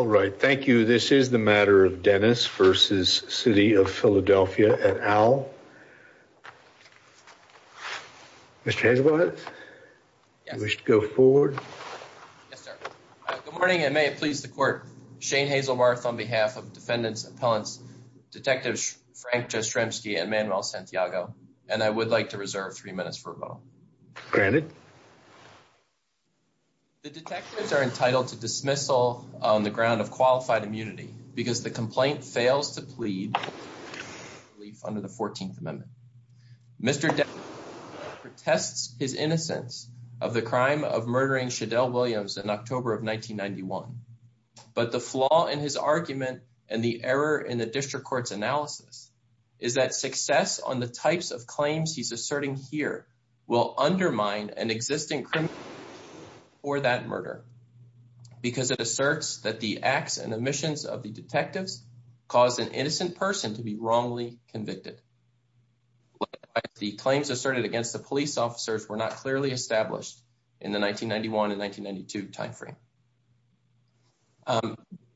All right. Thank you. This is the matter of Dennis v. City of Philadelphia et al. Mr. Hazelbarth, you wish to go forward? Yes, sir. Good morning, and may it please the Court. Shane Hazelbarth on behalf of defendants, appellants, Detectives Frank Jastrzemski and Manuel Santiago, and I would like to reserve three minutes for a vote. Granted. The detectives are entitled to dismissal on the ground of qualified immunity because the complaint fails to plead under the Fourteenth Amendment. Mr. Dennis protests his innocence of the crime of murdering Shadel Williams in October of 1991, but the flaw in his argument and the error in the district court's will undermine an existing criminal record for that murder because it asserts that the acts and omissions of the detectives caused an innocent person to be wrongly convicted. The claims asserted against the police officers were not clearly established in the 1991 and 1992 time frame.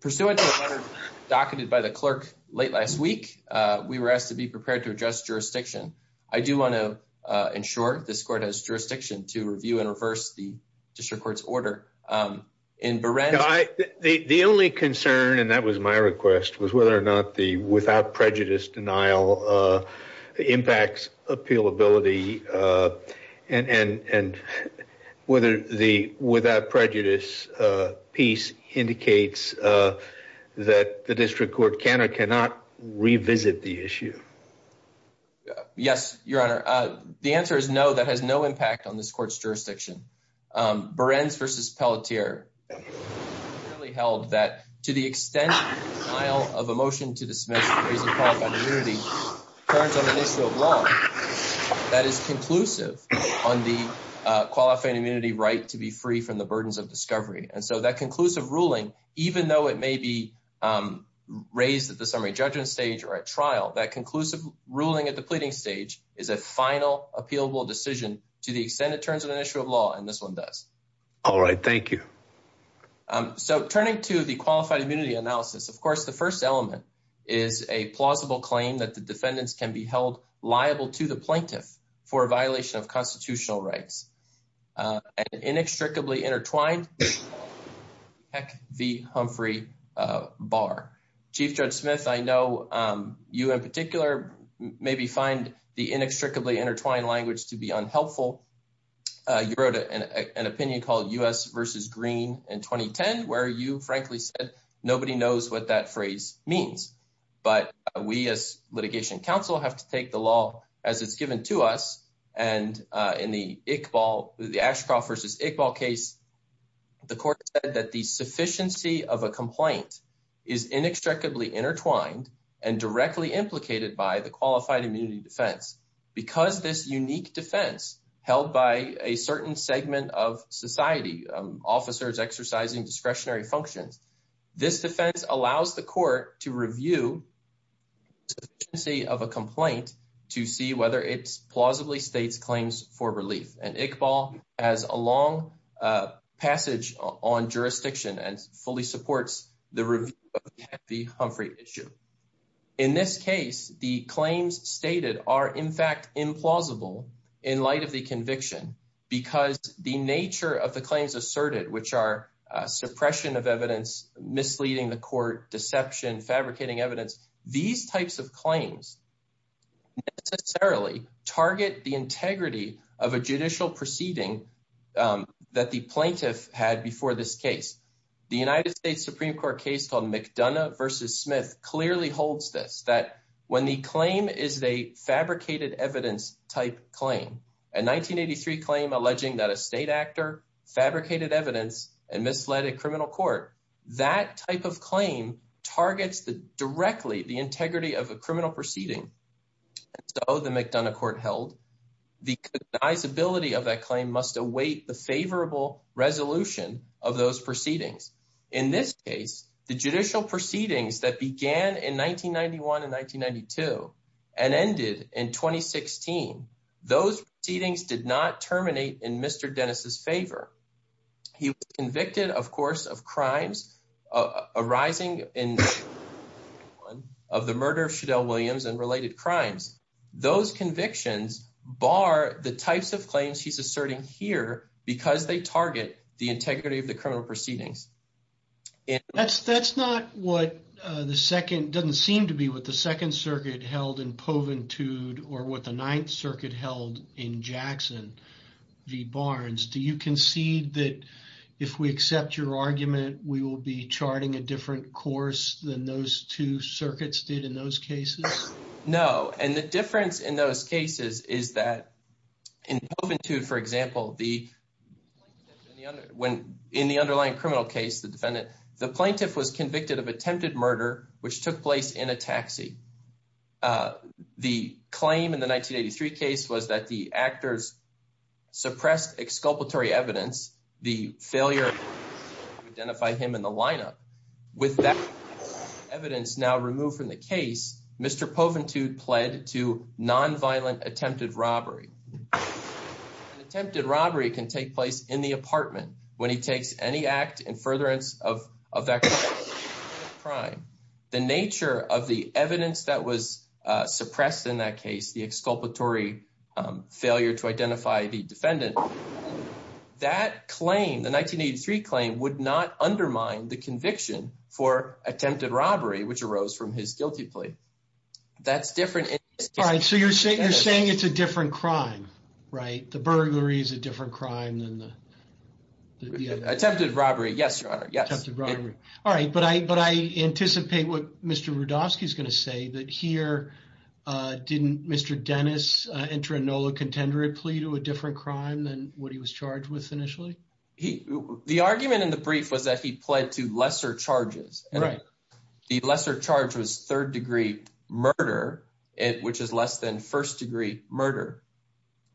Pursuant to a letter docketed by the clerk late last week, we were asked to be prepared to address jurisdiction. I do want to ensure this court has jurisdiction to review and reverse the district court's order. The only concern, and that was my request, was whether or not the without prejudice denial impacts appealability and whether the without Yes, Your Honor. The answer is no. That has no impact on this court's jurisdiction. Berens versus Pelletier held that to the extent of a motion to dismiss raising qualified immunity turns on an issue of law that is conclusive on the qualified immunity right to be free from the burdens of discovery. And so that conclusive ruling, even though it at the pleading stage, is a final appealable decision to the extent it turns on an issue of law. And this one does. All right. Thank you. So turning to the qualified immunity analysis, of course, the first element is a plausible claim that the defendants can be held liable to the plaintiff for a violation of constitutional rights and inextricably intertwined. Heck, the Humphrey Bar. Chief Judge Smith, I know you in particular maybe find the inextricably intertwined language to be unhelpful. You wrote an opinion called US versus Green in 2010, where you frankly said nobody knows what that phrase means. But we as litigation counsel have to take the law as it's given to us. And in the Iqbal, the Ashcroft versus Iqbal case, the court said that the sufficiency of a complaint is inextricably intertwined and directly implicated by the qualified immunity defense. Because this unique defense held by a certain segment of society, officers exercising discretionary functions, this defense allows the court to review the sufficiency of a complaint to see whether it's plausibly states claims for on jurisdiction and fully supports the review of the Humphrey issue. In this case, the claims stated are in fact implausible in light of the conviction because the nature of the claims asserted, which are suppression of evidence, misleading the court, deception, fabricating evidence. These types of claims necessarily target the integrity of a judicial proceeding that the plaintiff had before this case. The United States Supreme Court case called McDonough versus Smith clearly holds this, that when the claim is a fabricated evidence type claim, a 1983 claim alleging that a state actor fabricated evidence and misled a criminal court, that type of claim targets directly the integrity of a criminal proceeding. And so the McDonough court held the cognizability of that claim must await the favorable resolution of those proceedings. In this case, the judicial proceedings that began in 1991 and 1992 and ended in 2016, those proceedings did not terminate in Mr. Dennis's favor. He was convicted, of course, of crimes arising in 2001 of the murder of Shadel Williams and related crimes. Those convictions bar the types of claims he's asserting here because they target the integrity of the criminal proceedings. That's not what the second, doesn't seem to be what the second circuit held in Poventude or what the ninth circuit held in Jackson v. Barnes. Do you concede that if we accept your argument, we will be charting a different course than those two circuits did in those cases? No, and the difference in those cases is that in Poventude, for example, the plaintiff in the underlying criminal case, the defendant, the plaintiff was convicted of attempted murder, which took place in a taxi. The claim in the 1983 case was that the actors suppressed exculpatory evidence, the failure to identify him in the lineup. With that evidence now removed from the case, Mr. Poventude pled to non-violent attempted robbery. An attempted robbery can take place in the apartment when he takes any act in furtherance of that crime. The nature of the evidence that was suppressed in that case, the exculpatory failure to identify the defendant, that claim, the 1983 claim, would not undermine the conviction for attempted robbery, which arose from his guilty plea. That's different. All right, so you're saying you're saying it's a different crime, right? The burglary is a different crime than the attempted robbery. Yes, your honor. Yes. All right. But I anticipate what Mr. Rudofsky is going to say that here, didn't Mr. Dennis enter a NOLA contenderate plea to a different crime than what he was charged with initially? The argument in the brief was that he pled to lesser charges. Right. The lesser charge was third degree murder, which is less than first degree murder.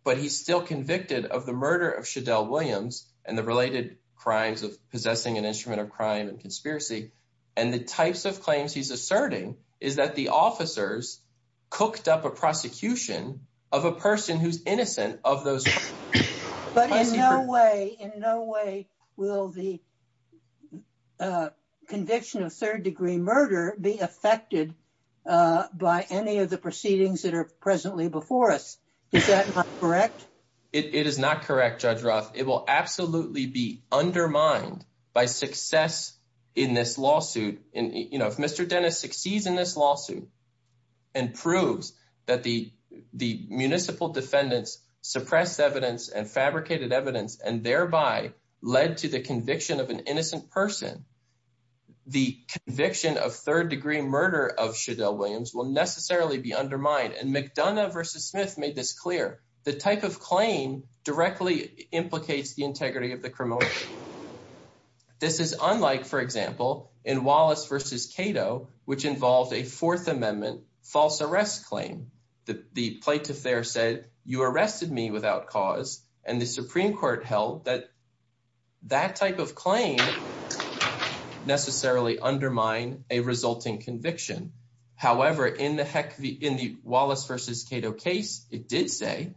But he's still convicted of the murder of Shadel Williams and the related crimes of possessing an instrument of crime and conspiracy. And the types of claims he's asserting is that the officers cooked up a prosecution of a person who's innocent of those. But in no way, in no way will the conviction of third degree murder be affected by any of the proceedings that are presently before us. Is that correct? It is not correct, Judge Roth. It will absolutely be undermined by success in this lawsuit. And if Mr. Dennis succeeds in this lawsuit and proves that the municipal defendants suppressed evidence and fabricated evidence and thereby led to the conviction of an innocent person, the conviction of third degree murder of Shadel Williams will necessarily be undermined. And McDonough versus Smith made this clear. The type of claim directly implicates the integrity of the criminal. This is unlike, for example, in Wallace versus Cato, which involved a Fourth Amendment false arrest claim. The plaintiff there said, you arrested me without cause. And the Supreme Court held that that type of claim necessarily undermine a resulting conviction. However, in the Wallace versus Cato case, it did say,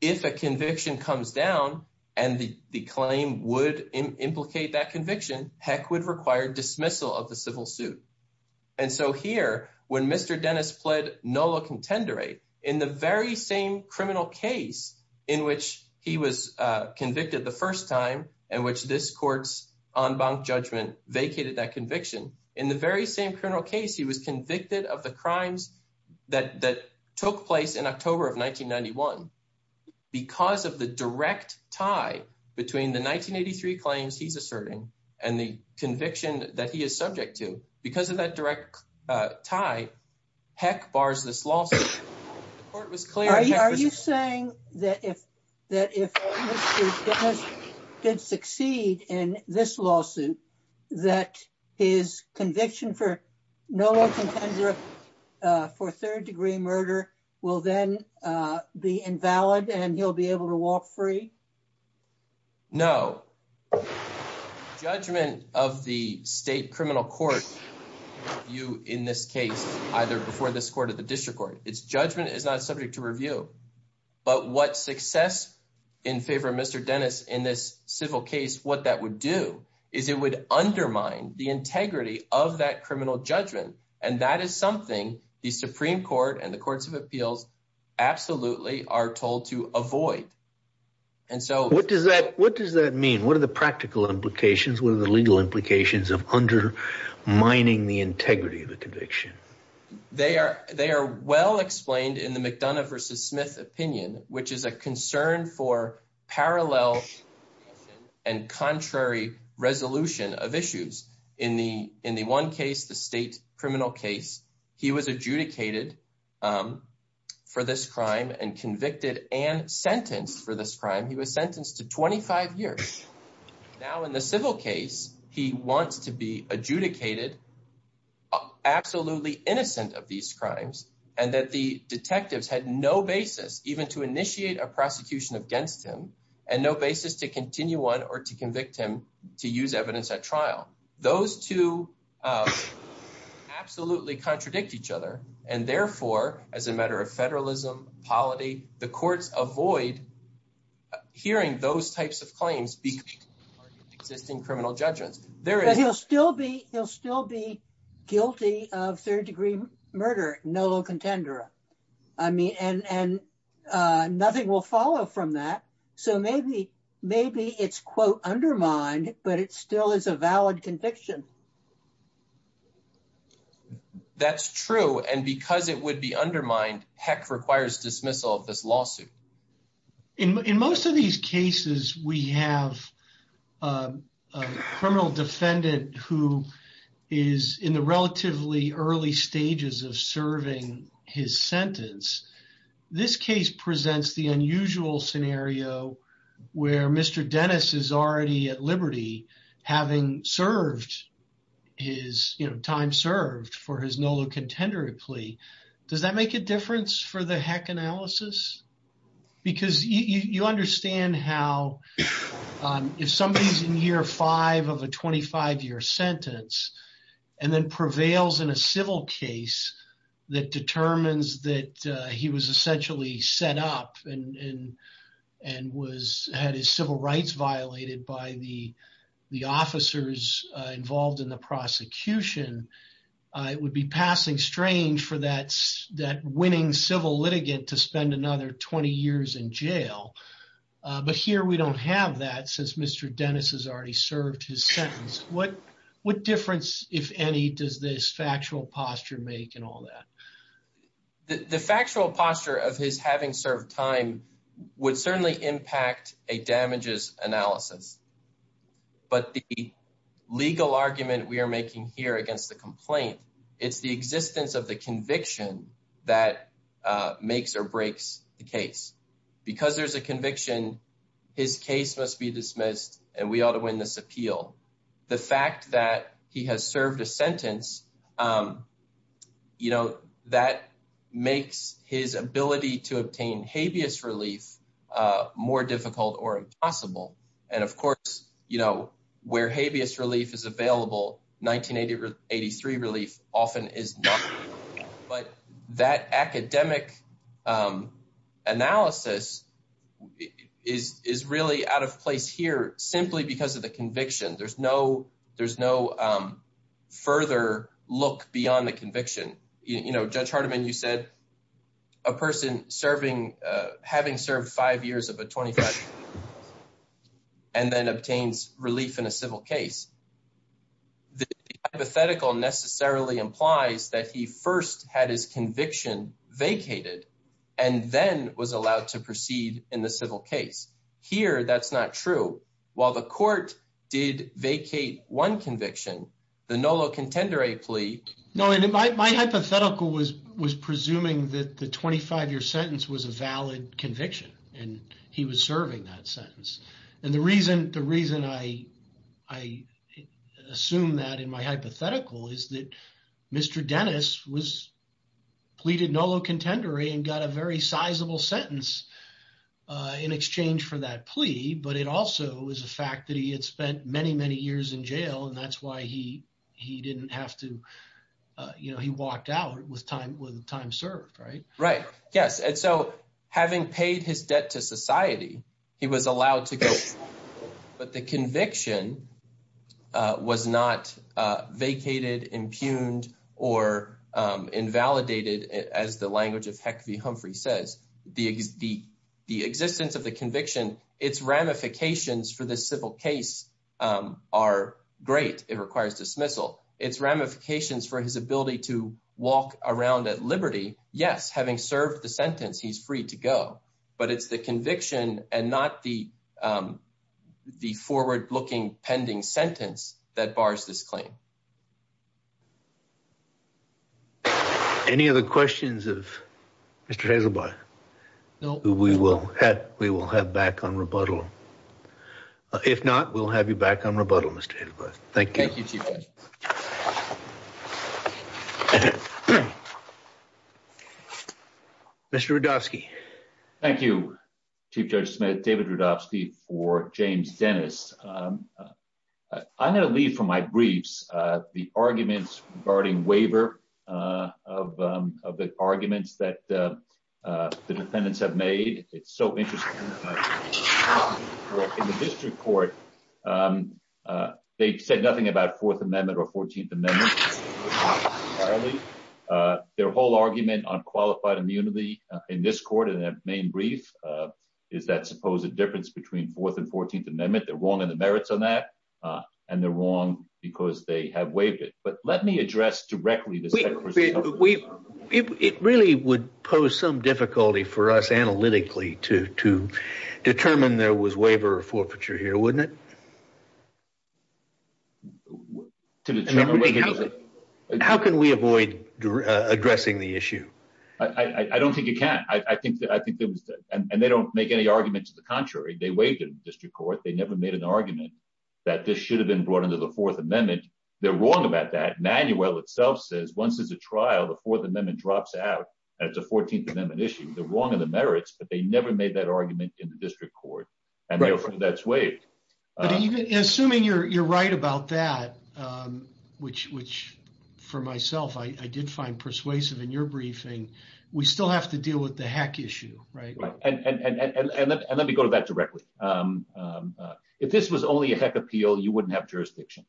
if a conviction comes down and the claim would implicate that conviction, heck would require dismissal of the civil suit. And so here, when Mr. Dennis pled nolo contendere, in the very same criminal case in which he was convicted the first time and which this court's en banc judgment vacated that conviction, in the very same criminal case, he was convicted of the crimes that took place in October of 1991. Because of the direct tie between the 1983 claims he's asserting and the conviction that he is subject to, because of that direct tie, heck bars this lawsuit. The court was clear. Are you saying that if Mr. Dennis did succeed in this lawsuit, that his conviction for nolo contendere for third degree murder will then be invalid and he'll be able to walk free? No. Judgment of the state criminal court review in this case, either before this court or the But what success in favor of Mr. Dennis in this civil case, what that would do is it would undermine the integrity of that criminal judgment. And that is something the Supreme Court and the courts of appeals absolutely are told to avoid. And so what does that what does that mean? What are the practical implications? What are the legal implications of undermining the integrity of the conviction? They are they are well explained in the McDonough versus Smith opinion, which is a concern for parallel and contrary resolution of issues. In the in the one case, the state criminal case, he was adjudicated for this crime and convicted and sentenced for this crime. He was sentenced to 25 years. Now, in the civil case, he wants to be adjudicated, absolutely innocent of these crimes and that the detectives had no basis even to initiate a prosecution against him and no basis to continue on or to convict him to use evidence at trial. Those two absolutely contradict each other. And therefore, as a matter of federalism, polity, the courts avoid hearing those types of claims because existing criminal judgments. There is he'll still be he'll still be guilty of third degree murder. No contender. I mean, and nothing will follow from that. So maybe maybe it's, quote, undermined, but it still is a valid conviction. That's true. And because it would be undermined, heck, requires dismissal of this lawsuit. In most of these cases, we have a criminal defendant who is in the relatively early stages of serving his sentence. This case presents the unusual scenario where Mr. Dennis is already at his time served for his NOLA contender plea. Does that make a difference for the heck analysis? Because you understand how if somebody's in year five of a 25 year sentence and then prevails in a civil case that determines that he was essentially set up and and and was his civil rights violated by the the officers involved in the prosecution, it would be passing strange for that that winning civil litigant to spend another 20 years in jail. But here we don't have that since Mr. Dennis has already served his sentence. What what difference, if any, does this factual posture make and all that? The factual posture of his having served time would certainly impact a damages analysis. But the legal argument we are making here against the complaint, it's the existence of the conviction that makes or breaks the case. Because there's a conviction, his case must be dismissed and we ought to win this appeal. The fact that he has served a sentence, you know, that makes his ability to obtain habeas relief more difficult or impossible. And of course, you know, where habeas relief is available, 1983 relief often is not. But that academic analysis is is really out of place here simply because of the conviction. There's no there's no further look beyond the conviction. You know, Judge Hardiman, you said a person serving having served five years of a 25 and then obtains relief in a civil case. The hypothetical necessarily implies that he first had his conviction vacated and then was allowed to proceed in the civil case. Here, that's not true. While the court did vacate one conviction, the Nolo Contendere plea. No, my hypothetical was was presuming that the 25 year sentence was a valid conviction and he was serving that sentence. And the reason the reason I I assume that in my hypothetical is that Mr. Dennis was pleaded Nolo Contendere and got a very sizable sentence in exchange for that plea. But it also is a fact that he had spent many, many years in jail. And that's why he he didn't have to. You know, he walked out with time with time served, right? Right. Yes. And so having paid his debt to society, he was allowed to go. But the conviction was not vacated, impugned or invalidated. As the language of Heck v. Humphrey says, the the the existence of the conviction, its ramifications for the civil case are great. It requires dismissal. Its ramifications for his ability to walk around at liberty. Yes. Having served the sentence, he's free to go. But it's the conviction and not the the forward looking pending sentence that bars this claim. Any other questions of Mr Hazelby? No. We will have we will have back on rebuttal. If not, we'll have you back on rebuttal. Mr. Thank you. Mr Rudofsky. Thank you, Chief Judge Smith. David Rudofsky for James Dennis. I'm going to leave from my briefs the arguments regarding waiver of the arguments that the defendants have made. It's so interesting. In the district court, they said nothing about Fourth Amendment or 14th Amendment. Their whole argument on qualified immunity in this court in the main brief is that supposed difference between Fourth and 14th Amendment. They're wrong in the merits on that and they're wrong because they have waived it. But let me address directly this. It really would pose some difficulty for us analytically to to determine there was waiver or forfeiture here, wouldn't it? How can we avoid addressing the issue? I don't think you can. I think that I waived it in the district court. They never made an argument that this should have been brought into the Fourth Amendment. They're wrong about that. Manuel itself says once there's a trial, the Fourth Amendment drops out and it's a 14th Amendment issue. They're wrong in the merits, but they never made that argument in the district court. Assuming you're right about that, which for myself, I did find persuasive in your briefing, we still have to deal with the heck issue. And let me go to that directly. If this was only a heck appeal, you wouldn't have jurisdiction.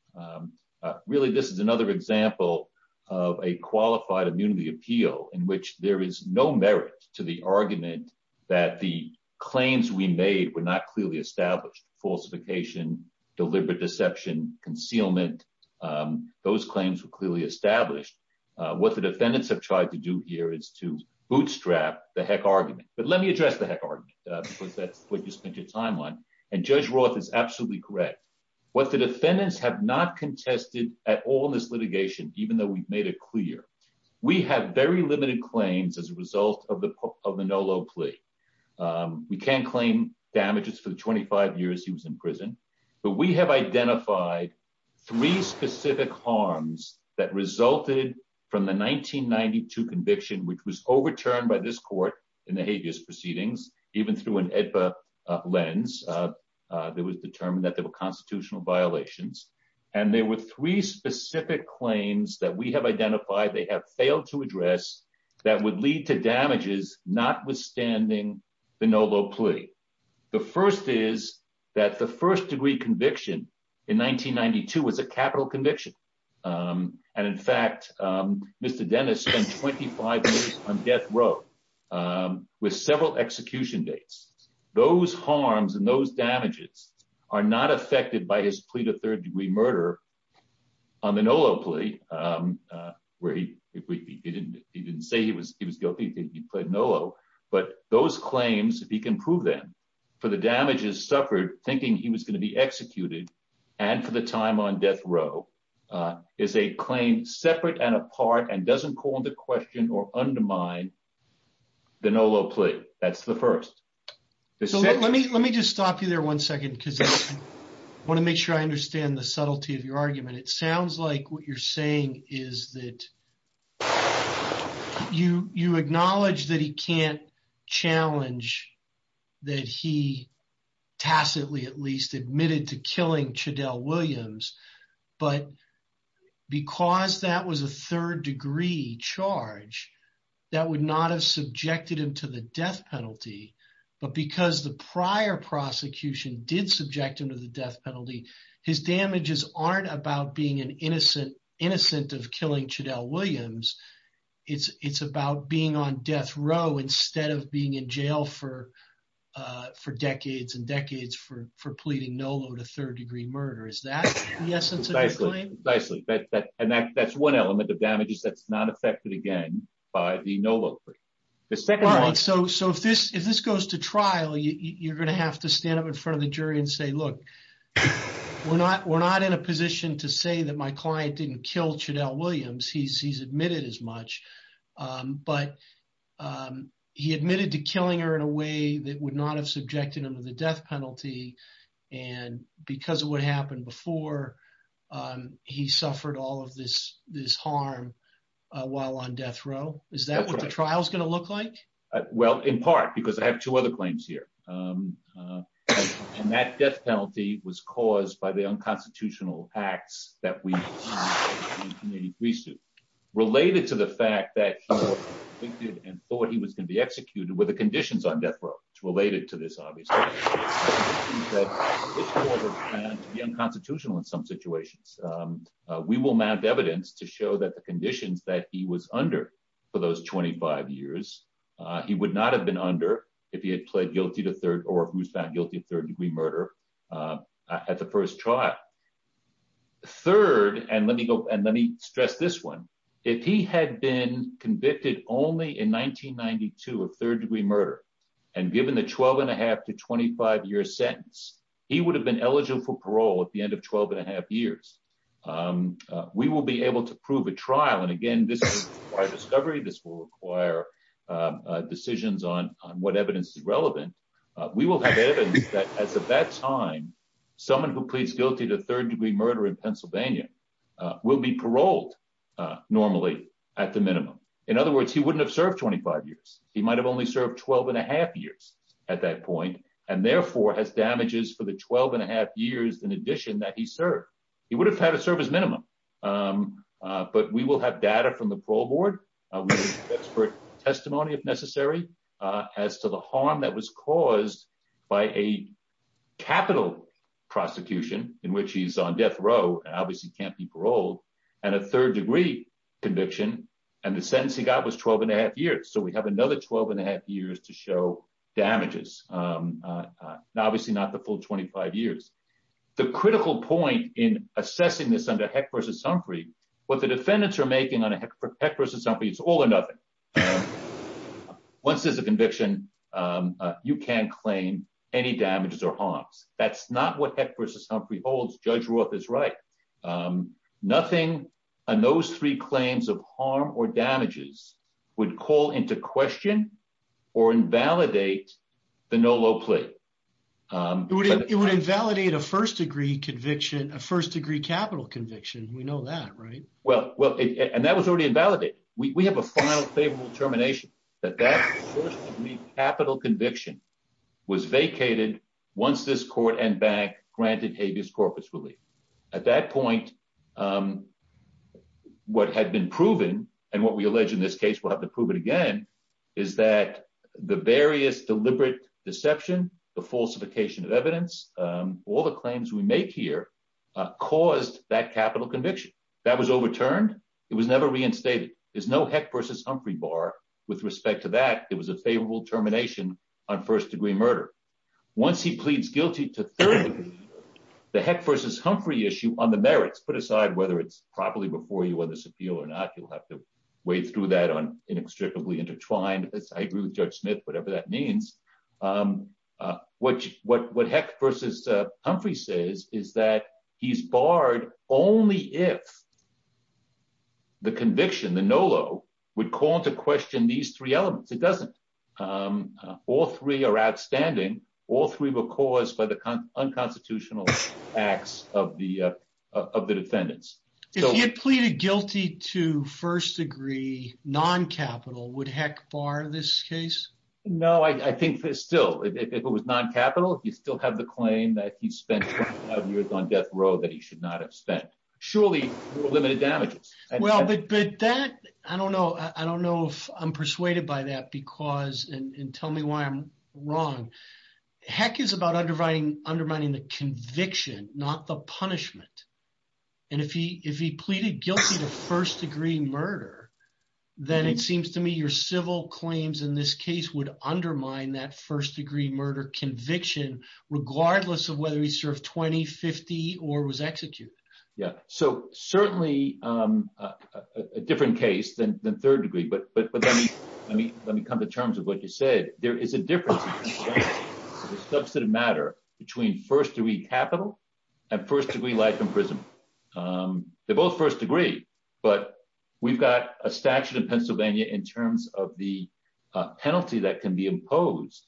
Really, this is another example of a qualified immunity appeal in which there is no merit to the argument that the claims we made were not clearly established. Falsification, deliberate deception, concealment, those claims were clearly established. What the defendants have tried to do here is to bootstrap the heck argument. But let me address the heck argument, because that's what you spent your time on. And Judge Roth is absolutely correct. What the defendants have not contested at all in this litigation, even though we've made it clear, we have very limited claims as a result of the Nolo plea. We can't claim damages for the 25 years he was in prison. But we have identified three specific harms that resulted from the 1992 conviction, which was overturned by this court in the habeas proceedings, even through an AEDPA lens that was determined that there were constitutional violations. And there were three specific claims that we have identified they have failed to address that would lead to the first degree conviction in 1992 was a capital conviction. And in fact, Mr. Dennis spent 25 years on death row with several execution dates. Those harms and those damages are not affected by his plea to third degree murder on the Nolo plea, where he didn't say he was guilty. He was going to be executed. And for the time on death row is a claim separate and apart and doesn't call into question or undermine the Nolo plea. That's the first. So let me let me just stop you there one second, because I want to make sure I understand the subtlety of your argument. It sounds like what you're saying is that you you acknowledge that he can't challenge that he tacitly at least admitted to killing Chadell Williams. But because that was a third degree charge, that would not have subjected him to the death penalty. But because the prior prosecution did subject him to the death penalty, his damages aren't about being an innocent, innocent of killing Chadell Williams. It's it's about being on death row instead of being in jail for for decades and decades for for pleading Nolo to third degree murder. Is that the essence of the claim? Precisely. And that's one element of damages that's not affected again by the Nolo plea. So if this if this goes to trial, you're going to have to stand up in front of the jury and say, look, we're not we're not in a position to say that my client didn't kill Chadell Williams. He's admitted as much. But he admitted to killing her in a way that would not have subjected him to the death penalty. And because of what happened before, he suffered all of this this harm while on death row. Is that what the trial is going to look like? Well, in part, because I have two other claims here. And that death penalty was caused by the unconstitutional acts that we see related to the fact that we did and thought he was going to be executed with the conditions on death row related to this. Obviously, the unconstitutional in some situations, we will mount evidence to show that the conditions that he was under for those 25 years he would not have been under if he had pled guilty to third or who's found guilty of third degree murder at the first trial. Third, and let me go and let me stress this one. If he had been convicted only in 1992 of third degree murder, and given the 12 and a half to 25 year sentence, he would have been eligible for parole at the end of 12 and a half years. Um, we will be able to prove a trial. And again, this discovery, this will require decisions on what evidence is relevant. We will have evidence that as of that time, someone who pleads guilty to third degree murder in Pennsylvania will be paroled normally, at the minimum. In other words, he wouldn't have served 25 years, he might have only served 12 and a half years at that point, and therefore has damages for the 12 and a half years in addition that he served, he would have had a service minimum. But we will have data from the parole board, expert testimony if necessary, as to the harm that was caused by a capital prosecution in which he's on death row, obviously can't be paroled. And a third degree conviction. And the sentence he got was 12 and a half years. So we have another 12 and a half years to show damages. Uh, obviously not the full 25 years. The critical point in assessing this under Heck versus Humphrey, what the defendants are making on a Heck versus Humphrey, it's all or nothing. Once there's a conviction, you can't claim any damages or harms. That's not what Heck versus Humphrey holds. Judge Roth is right. Nothing on those three claims of harm or damages would call into question or invalidate the Nolo plea. It would invalidate a first degree conviction, a first degree capital conviction. We know that, right? Well, and that was already invalidated. We have a final favorable termination that that first degree capital conviction was vacated once this court and bank granted habeas corpus relief. At that point, um, what had been proven and what we allege in this case, we'll have to prove it again, is that the various deliberate deception, the falsification of evidence, um, all the claims we make here, uh, caused that capital conviction that was overturned. It was never reinstated. There's no Heck versus Humphrey bar with respect to that. It was a favorable termination on first degree murder. Once he pleads guilty to third degree, the Heck versus Humphrey issue on merits, put aside whether it's properly before you on this appeal or not, you'll have to wade through that on inextricably intertwined. I agree with Judge Smith, whatever that means. Um, uh, what, what, what Heck versus, uh, Humphrey says is that he's barred only if the conviction, the Nolo would call into question these three elements. It doesn't. Um, all three are outstanding. All three were caused by the unconstitutional acts of the, of the defendants. If you pleaded guilty to first degree non-capital would Heck bar this case? No, I think there's still, if it was non-capital, if you still have the claim that he spent years on death row that he should not have spent surely limited damages. Well, but that, I don't know. I don't know if I'm persuaded by that because, and tell me why I'm not the punishment. And if he, if he pleaded guilty to first degree murder, then it seems to me your civil claims in this case would undermine that first degree murder conviction, regardless of whether he served 20, 50 or was executed. Yeah. So certainly, um, uh, uh, a different case than, than third degree, but, but, but let me, let me, let me come to terms with what you said. There is a difference in the substantive matter between first degree capital and first degree life imprisonment. Um, they're both first degree, but we've got a statute in Pennsylvania in terms of the, uh, penalty that can be imposed.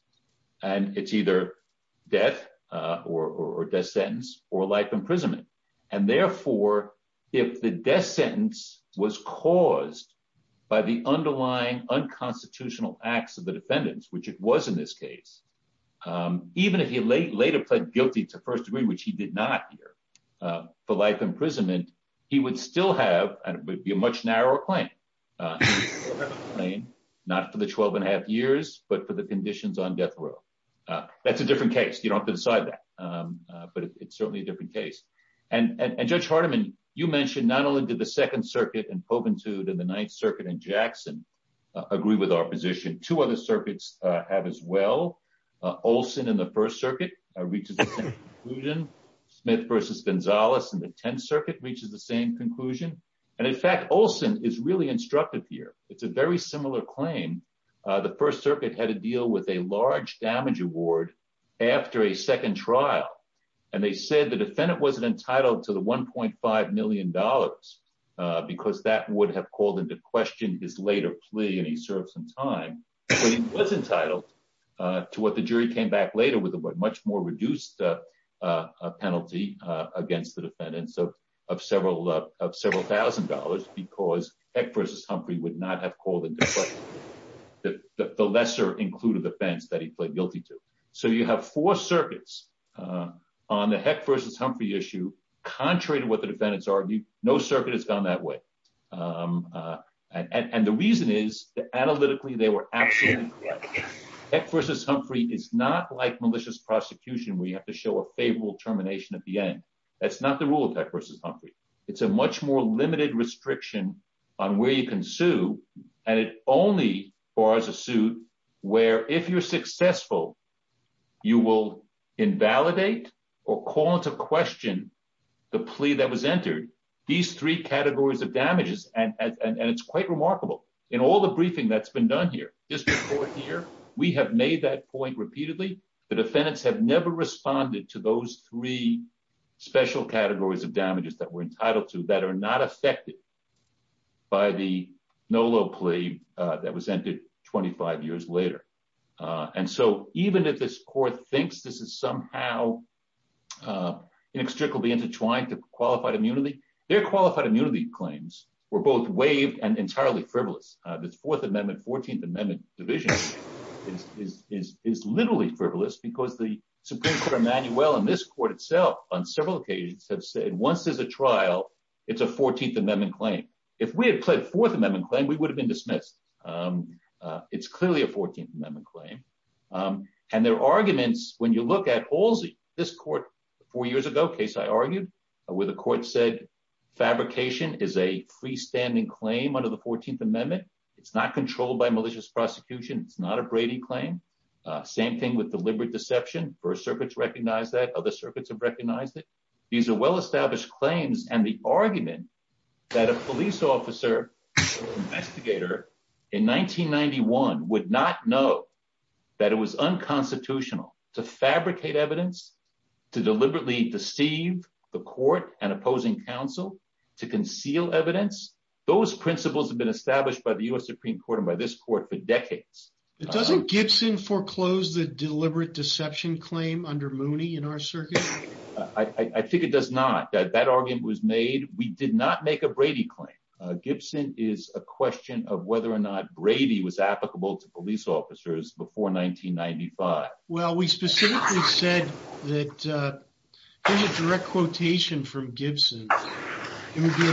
And it's either death, uh, or, or death sentence or life imprisonment. And therefore, if the death sentence was caused by the underlying unconstitutional acts of the defendants, which it was in this case, um, even if he late later pled guilty to first degree, which he did not hear, uh, for life imprisonment, he would still have, and it would be a much narrower claim, uh, not for the 12 and a half years, but for the conditions on death row. Uh, that's a different case. You don't have to decide that. Um, uh, but it's certainly a different case. And, and, and judge Hardiman, you mentioned not only did the second circuit and Pobentude and the ninth circuit and Jackson, uh, agree with our position to other circuits, uh, have as well, uh, Olson in the first circuit, uh, reaches the same conclusion Smith versus Gonzalez and the 10th circuit reaches the same conclusion. And in fact, Olson is really instructive here. It's a very similar claim. Uh, the first circuit had to deal with a large damage award after a second trial. And they said the defendant wasn't entitled to the $1.5 million, uh, because that would have called into question his later plea. And he served some time, but he was entitled, uh, to what the jury came back later with a much more reduced, uh, uh, penalty, uh, against the defendants of, of several, uh, of several thousand dollars because heck versus Humphrey would not have called into the lesser included offense that he played guilty to. So you have four circuits, uh, on the heck versus Humphrey issue, contrary to what the no circuit has gone that way. Um, uh, and, and the reason is that analytically, they were absolutely correct. Heck versus Humphrey is not like malicious prosecution where you have to show a favorable termination at the end. That's not the rule of heck versus Humphrey. It's a much more limited restriction on where you can sue. And it only bars a suit where if you're successful, you will invalidate or call into question the plea that was entered these three categories of damages. And, and, and it's quite remarkable in all the briefing that's been done here, just before here, we have made that point repeatedly. The defendants have never responded to those three special categories of damages that were entitled to that are not affected by the Nolo plea, uh, that was entered 25 years later. Uh, and so even if this court thinks this is somehow, uh, inextricably intertwined to qualified immunity, their qualified immunity claims were both waived and entirely frivolous. Uh, this fourth amendment, 14th amendment division is, is, is, is literally frivolous because the Supreme Court of Manuel and this court itself on several occasions have said, once there's a trial, it's a 14th amendment claim. If we had pled fourth amendment claim, we would have been dismissed. Um, uh, it's clearly a 14th amendment claim. Um, and their arguments, when you look at Halsey, this court four years ago case, I argued with a court said, fabrication is a freestanding claim under the 14th amendment. It's not controlled by malicious prosecution. It's not a Brady claim. Uh, same thing with deliberate deception. First circuits recognize that other circuits have recognized it. These are well established claims and the argument that a police officer investigator in 1991 would not know that it was unconstitutional to fabricate evidence, to deliberately deceive the court and opposing counsel to conceal evidence. Those principles have been established by the U S Supreme court and by this court for decades. It doesn't Gibson foreclosed the deliberate deception claim under Mooney in our circuit. I think it does not that that argument was made. We did not make a Brady claim. Uh, Gibson is a question of whether or not Brady was applicable to police officers before 1995. Well, we specifically said that, uh, here's a direct quotation from Gibson. It would be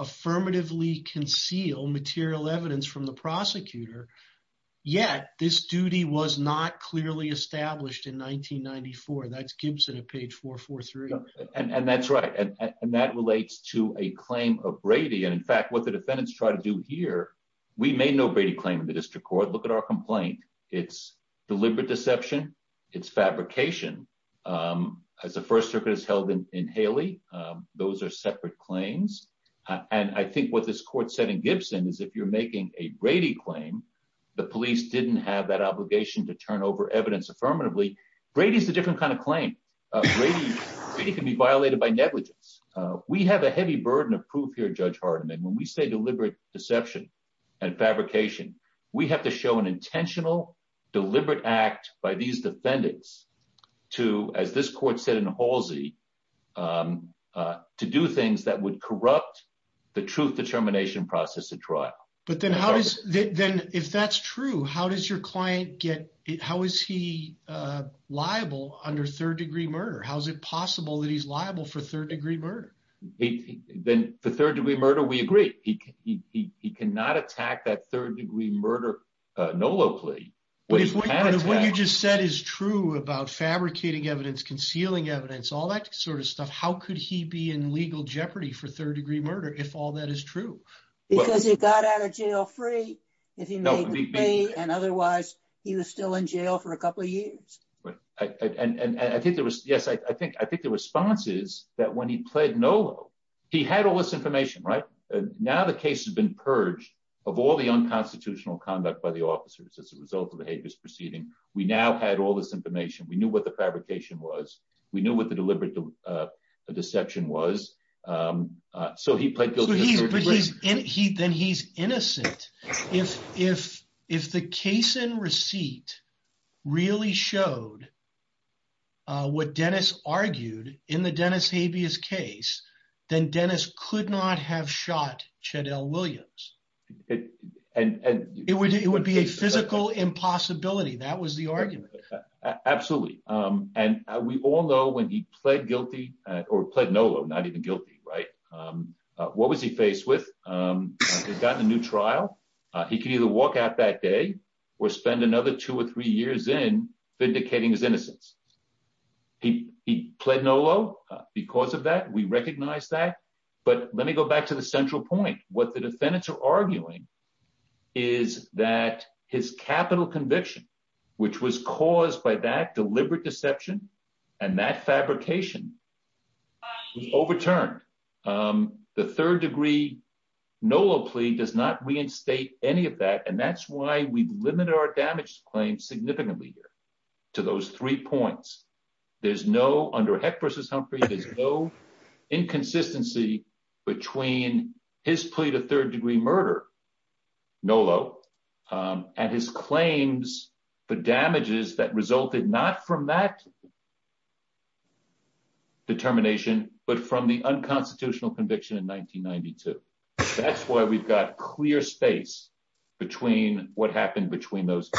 affirmatively conceal material evidence from the prosecutor. Yet this duty was not clearly established in 1994. That's Gibson at page four, four, three. And that's right. And that relates to a claim of Brady. And in fact, what the defendants try to do here, we made no Brady claim in the district court. Look at our complaint. It's deliberate deception. It's fabrication. Um, as the first circuit is held in, in Haley, um, those are separate claims. And I think what this court said in Gibson is if you're making a Brady claim, the police didn't have that obligation to turn over evidence affirmatively. Brady's a different kind of claim. Uh, it can be violated by negligence. Uh, we have a heavy burden of proof here. Judge Hardiman, when we say deliberate deception and fabrication, we have to an intentional deliberate act by these defendants to, as this court said in Halsey, um, uh, to do things that would corrupt the truth determination process at trial. But then how does that then if that's true, how does your client get it? How is he, uh, liable under third degree murder? How's it possible that he's liable for third degree murder? Then the third degree murder, we agree. He can, he, he, he cannot attack that third degree murder, uh, Nolo plea. What you just said is true about fabricating evidence, concealing evidence, all that sort of stuff. How could he be in legal jeopardy for third degree murder? If all that is true. Because he got out of jail free and otherwise he was still in jail for a couple of years. And I think there was, yes, I think, I think the response is that when he pled Nolo, he had all this information, right? Now the case has been purged of all the unconstitutional conduct by the officers as a result of the habeas proceeding. We now had all this information. We knew what the fabrication was. We knew what the deliberate, uh, deception was. Um, uh, so he pled guilty. Then he's innocent. If, if, if the case and receipt really showed, uh, what Dennis argued in the Dennis habeas case, then Dennis could not have shot Chaddell Williams. And it would, it would be a physical impossibility. That was the argument. Absolutely. Um, and we all know when he pled guilty or pled Nolo, not even guilty, right? Um, uh, what was he faced with? Um, he'd gotten a new trial. Uh, he can either walk out that day or spend another two or three years in vindicating his innocence. He, he pled Nolo because of that. We recognize that, but let me go back to the central point. What the defendants are arguing is that his capital conviction, which was caused by that deliberate deception and that fabrication was overturned. Um, the third degree Nolo plea does not reinstate any of that. And that's why we've limited our damage claims significantly here to those three points. There's no under heck versus Humphrey. There's no inconsistency between his plea to third degree murder Nolo, um, and his claims, the damages that resulted not from that determination, but from the unconstitutional conviction in 1992. That's why we've got clear space between what happened between those,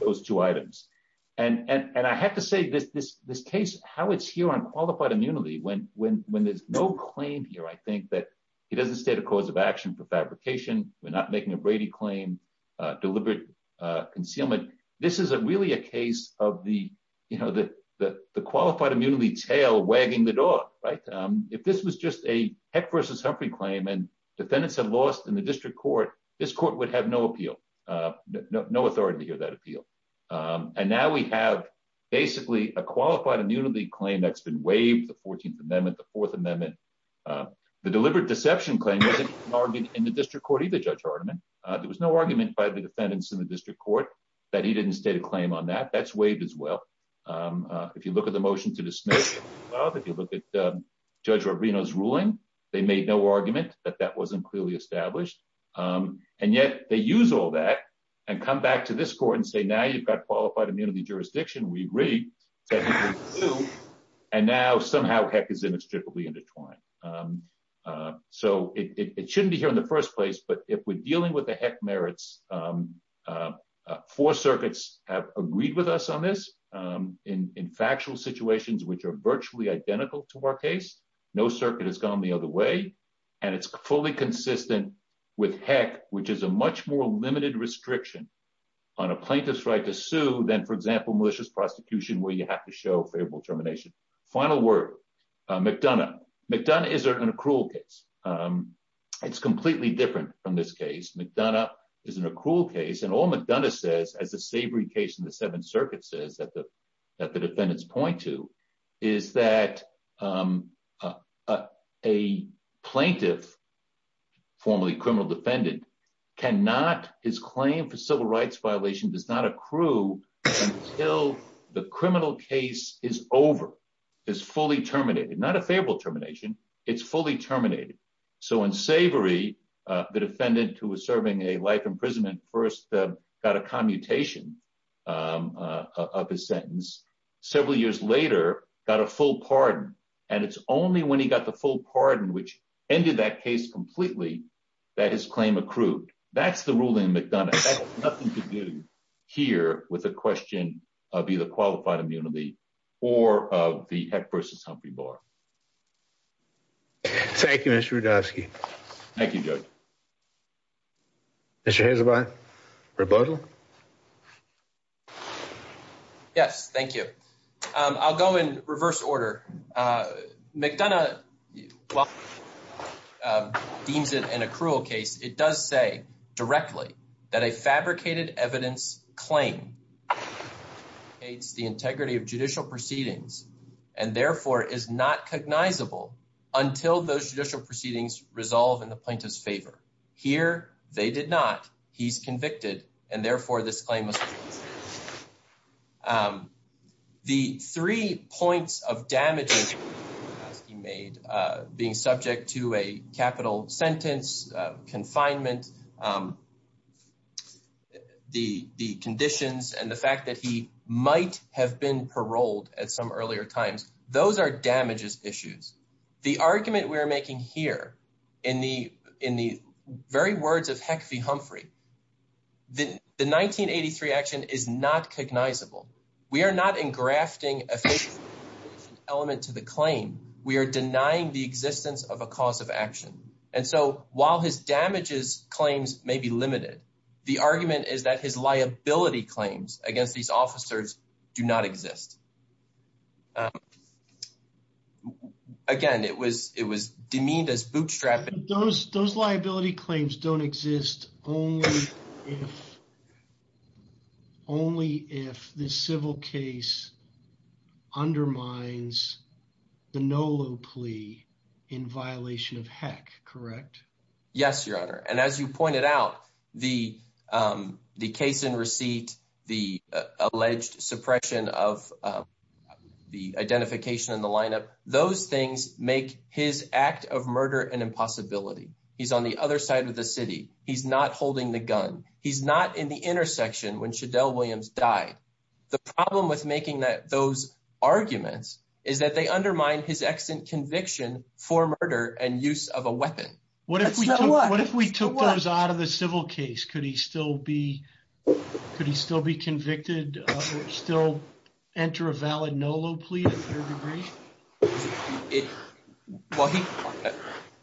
those two items. And, and, and I have to say this, this, this case, how it's here on qualified immunity when, when, when there's no claim here, I think that it doesn't state a cause of action for fabrication. We're not making a Brady claim, uh, deliberate, uh, concealment. This is a really a case of the, you know, the, the, the qualified immunity tail wagging the dog, right? Um, if this was just a Humphrey claim and defendants have lost in the district court, this court would have no appeal, uh, no, no authority to hear that appeal. Um, and now we have basically a qualified immunity claim that's been waived. The 14th amendment, the fourth amendment, uh, the deliberate deception claim wasn't argued in the district court, either. Judge Hardiman, there was no argument by the defendants in the district court that he didn't state a claim on that that's waived as well. Um, uh, if you look at the motion to dismiss, if you look at, um, Judge Rubino's ruling, they made no argument that that wasn't clearly established. Um, and yet they use all that and come back to this court and say, now you've got qualified immunity jurisdiction. We agree. And now somehow heck is inextricably intertwined. Um, uh, so it, it shouldn't be here in the first place, but if we're dealing with the heck merits, um, uh, four circuits have agreed with us on this, um, in, in factual situations, which are virtually identical to our case, no circuit has gone the other way. And it's fully consistent with heck, which is a much more limited restriction on a plaintiff's right to sue. Then for example, malicious prosecution, where you have to show favorable termination, final word, uh, McDonough McDonough is an accrual case. Um, it's completely different from this case. McDonough is an accrual case and all McDonough says as a savory case in the seventh circuit says that the, that the defendants point to is that, um, uh, a plaintiff formerly criminal defendant cannot his claim for civil rights violation does not accrue until the criminal case is over is fully terminated, not a favorable termination. It's fully terminated. So in savory, uh, the defendant who was serving a life imprisonment first, uh, got a commutation, um, uh, of his sentence several years later, got a full pardon. And it's only when he got the full pardon, which ended that case completely that his claim accrued. That's the ruling McDonough nothing to do here with a question of either qualified immunity or of the heck versus Humphrey bar. Thank you, Mr. Rudofsky. Thank you. Yes, thank you. Um, I'll go in reverse order. Uh, McDonough, deems it an accrual case. It does say directly that a fabricated evidence claim hates the integrity of judicial proceedings and therefore is not cognizable until those judicial proceedings resolve in the plaintiff's favor here. They did not. He's convicted. And therefore this claim was, um, the three points of damage he made, uh, being subject to a might have been paroled at some earlier times. Those are damages issues. The argument we're making here in the, in the very words of heck V Humphrey, the, the 1983 action is not cognizable. We are not in grafting official element to the claim. We are denying the existence of a cause of action. And so while his damages claims may be limited, the argument is that his liability claims against these officers do not exist. Um, again, it was, it was demeaned as bootstrapping those, those liability claims don't exist only if, only if the civil case undermines the Nolo plea in violation of heck. Correct? Yes, your honor. And as you pointed out the, um, the case in receipt, the alleged suppression of, um, the identification and the lineup, those things make his act of murder and impossibility. He's on the other side of the city. He's not holding the gun. He's not in the intersection when should Dell Williams died. The problem with making that those arguments is that they undermine his extant conviction for murder and use of a weapon. What if we took those out of the civil case? Could he still be, could he still be convicted or still enter a valid Nolo plea? Well, he,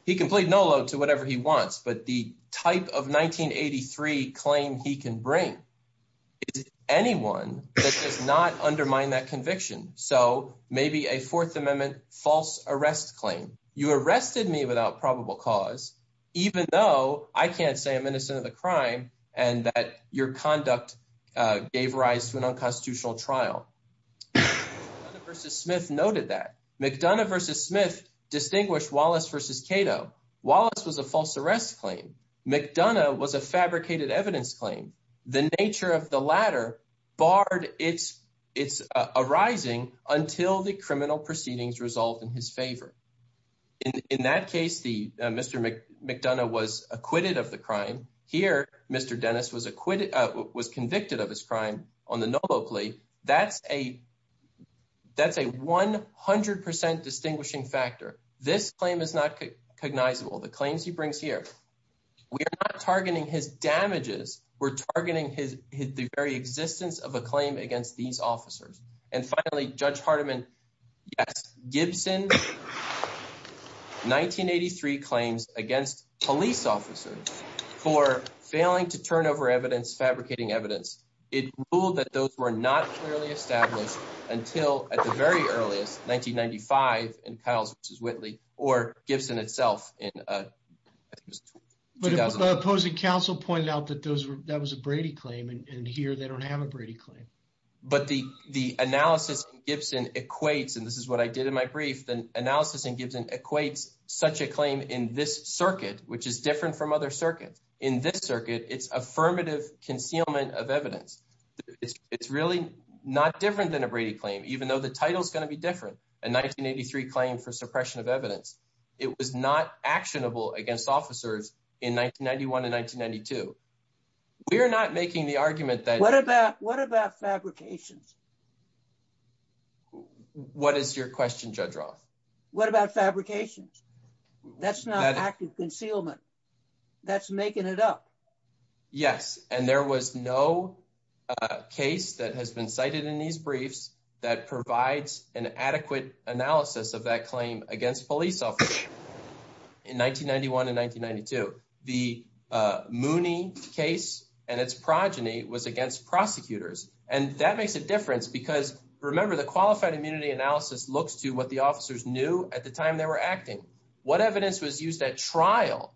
he can plead Nolo to whatever he wants, but the type of 1983 claim he can bring is anyone that does not undermine that conviction. So maybe a fourth amendment false arrest claim. You arrested me without probable cause, even though I can't say I'm innocent of the crime and that your conduct gave rise to an unconstitutional trial versus Smith noted that McDonough versus Smith distinguished Wallace versus Cato. Wallace was a false arrest claim. McDonough was a fabricated evidence claim. The nature of the ladder barred it's, it's arising until the criminal proceedings resolved in his favor. In that case, the Mr. McDonough was acquitted of the crime here. Mr. Dennis was acquitted, was convicted of his crime on the Nolo plea. That's a, that's a 100% distinguishing factor. This claim is not cognizable. The claims he brings here, we're not targeting his damages. We're targeting his, his, the very existence of a claim against these officers. And finally, judge Hardiman, yes, Gibson, 1983 claims against police officers for failing to turn over evidence, fabricating evidence. It ruled that those were not clearly established until at the very earliest 1995 in Kyle's versus Whitley or Gibson itself in, uh, opposing council pointed out that those were, that was a Brady claim and here they don't have a Brady claim, but the, the analysis Gibson equates, and this is what I did in my brief, then analysis and Gibson equates such a claim in this circuit, which is different from other circuits in this circuit. It's affirmative concealment of evidence. It's, it's really not different than a Brady claim, even though the title is going to be different. And 1983 claim for suppression of evidence. It was not actionable against officers in 1991 and 1992. We are not making the argument that what about, what about fabrications? What is your question judge Roth? What about fabrications? That's not active concealment. That's making it up. Yes. And there was no case that has been cited in these briefs that provides an adequate analysis of that claim against police officer in 1991 and 1992, the, uh, Mooney case and its progeny was against prosecutors. And that makes a difference because remember the qualified immunity analysis looks to what the officers knew at the time they were acting, what evidence was used at trial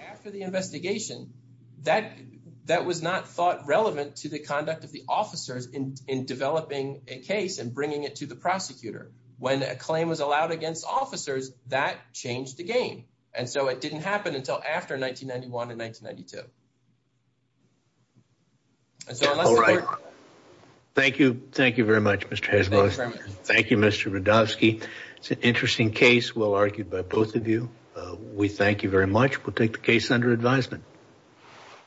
after the investigation that, that was not thought to the conduct of the officers in, in developing a case and bringing it to the prosecutor. When a claim was allowed against officers that changed the game. And so it didn't happen until after 1991 and 1992. Thank you. Thank you very much, Mr. Thank you, Mr. Rudovsky. It's an interesting case. Well argued by both of you. We thank you very much. We'll take the case under advisement.